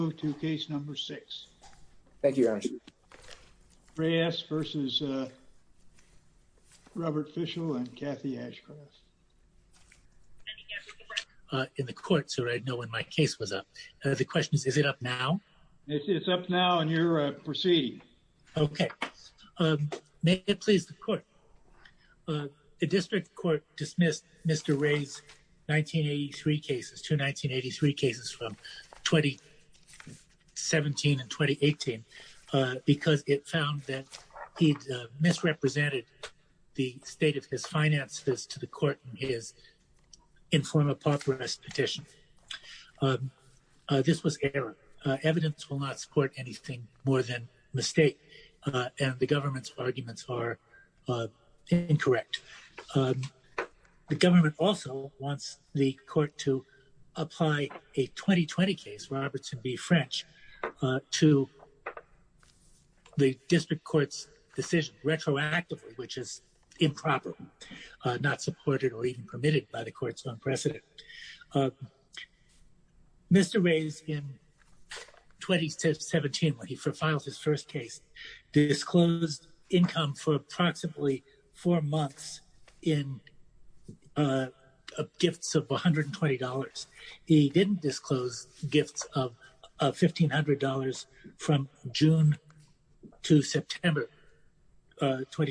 and Kathy Ashcroft. Let me get to the record in the court so I know when my case was up. The question is, is it up now? It's up now and you're proceeding. Okay. May it please the court. The district court dismissed Mr. Reyes' 1983 cases, two 1983 cases from 2017 and 2018, because it found that he'd misrepresented the state of his finances to the court in his inform-a-pop arrest petition. This was error. Evidence will not support anything more than mistake. And the government's arguments are incorrect. The government also wants the court to apply a 2020 case, Robertson v. French, to the district court's decision retroactively, which is improper, not supported or even permitted by the court's own precedent. Mr. Reyes, in 2017, when he filed his first case, disclosed income for approximately four months in gifts of $120. He didn't disclose gifts of $1,500 from June to September 2017.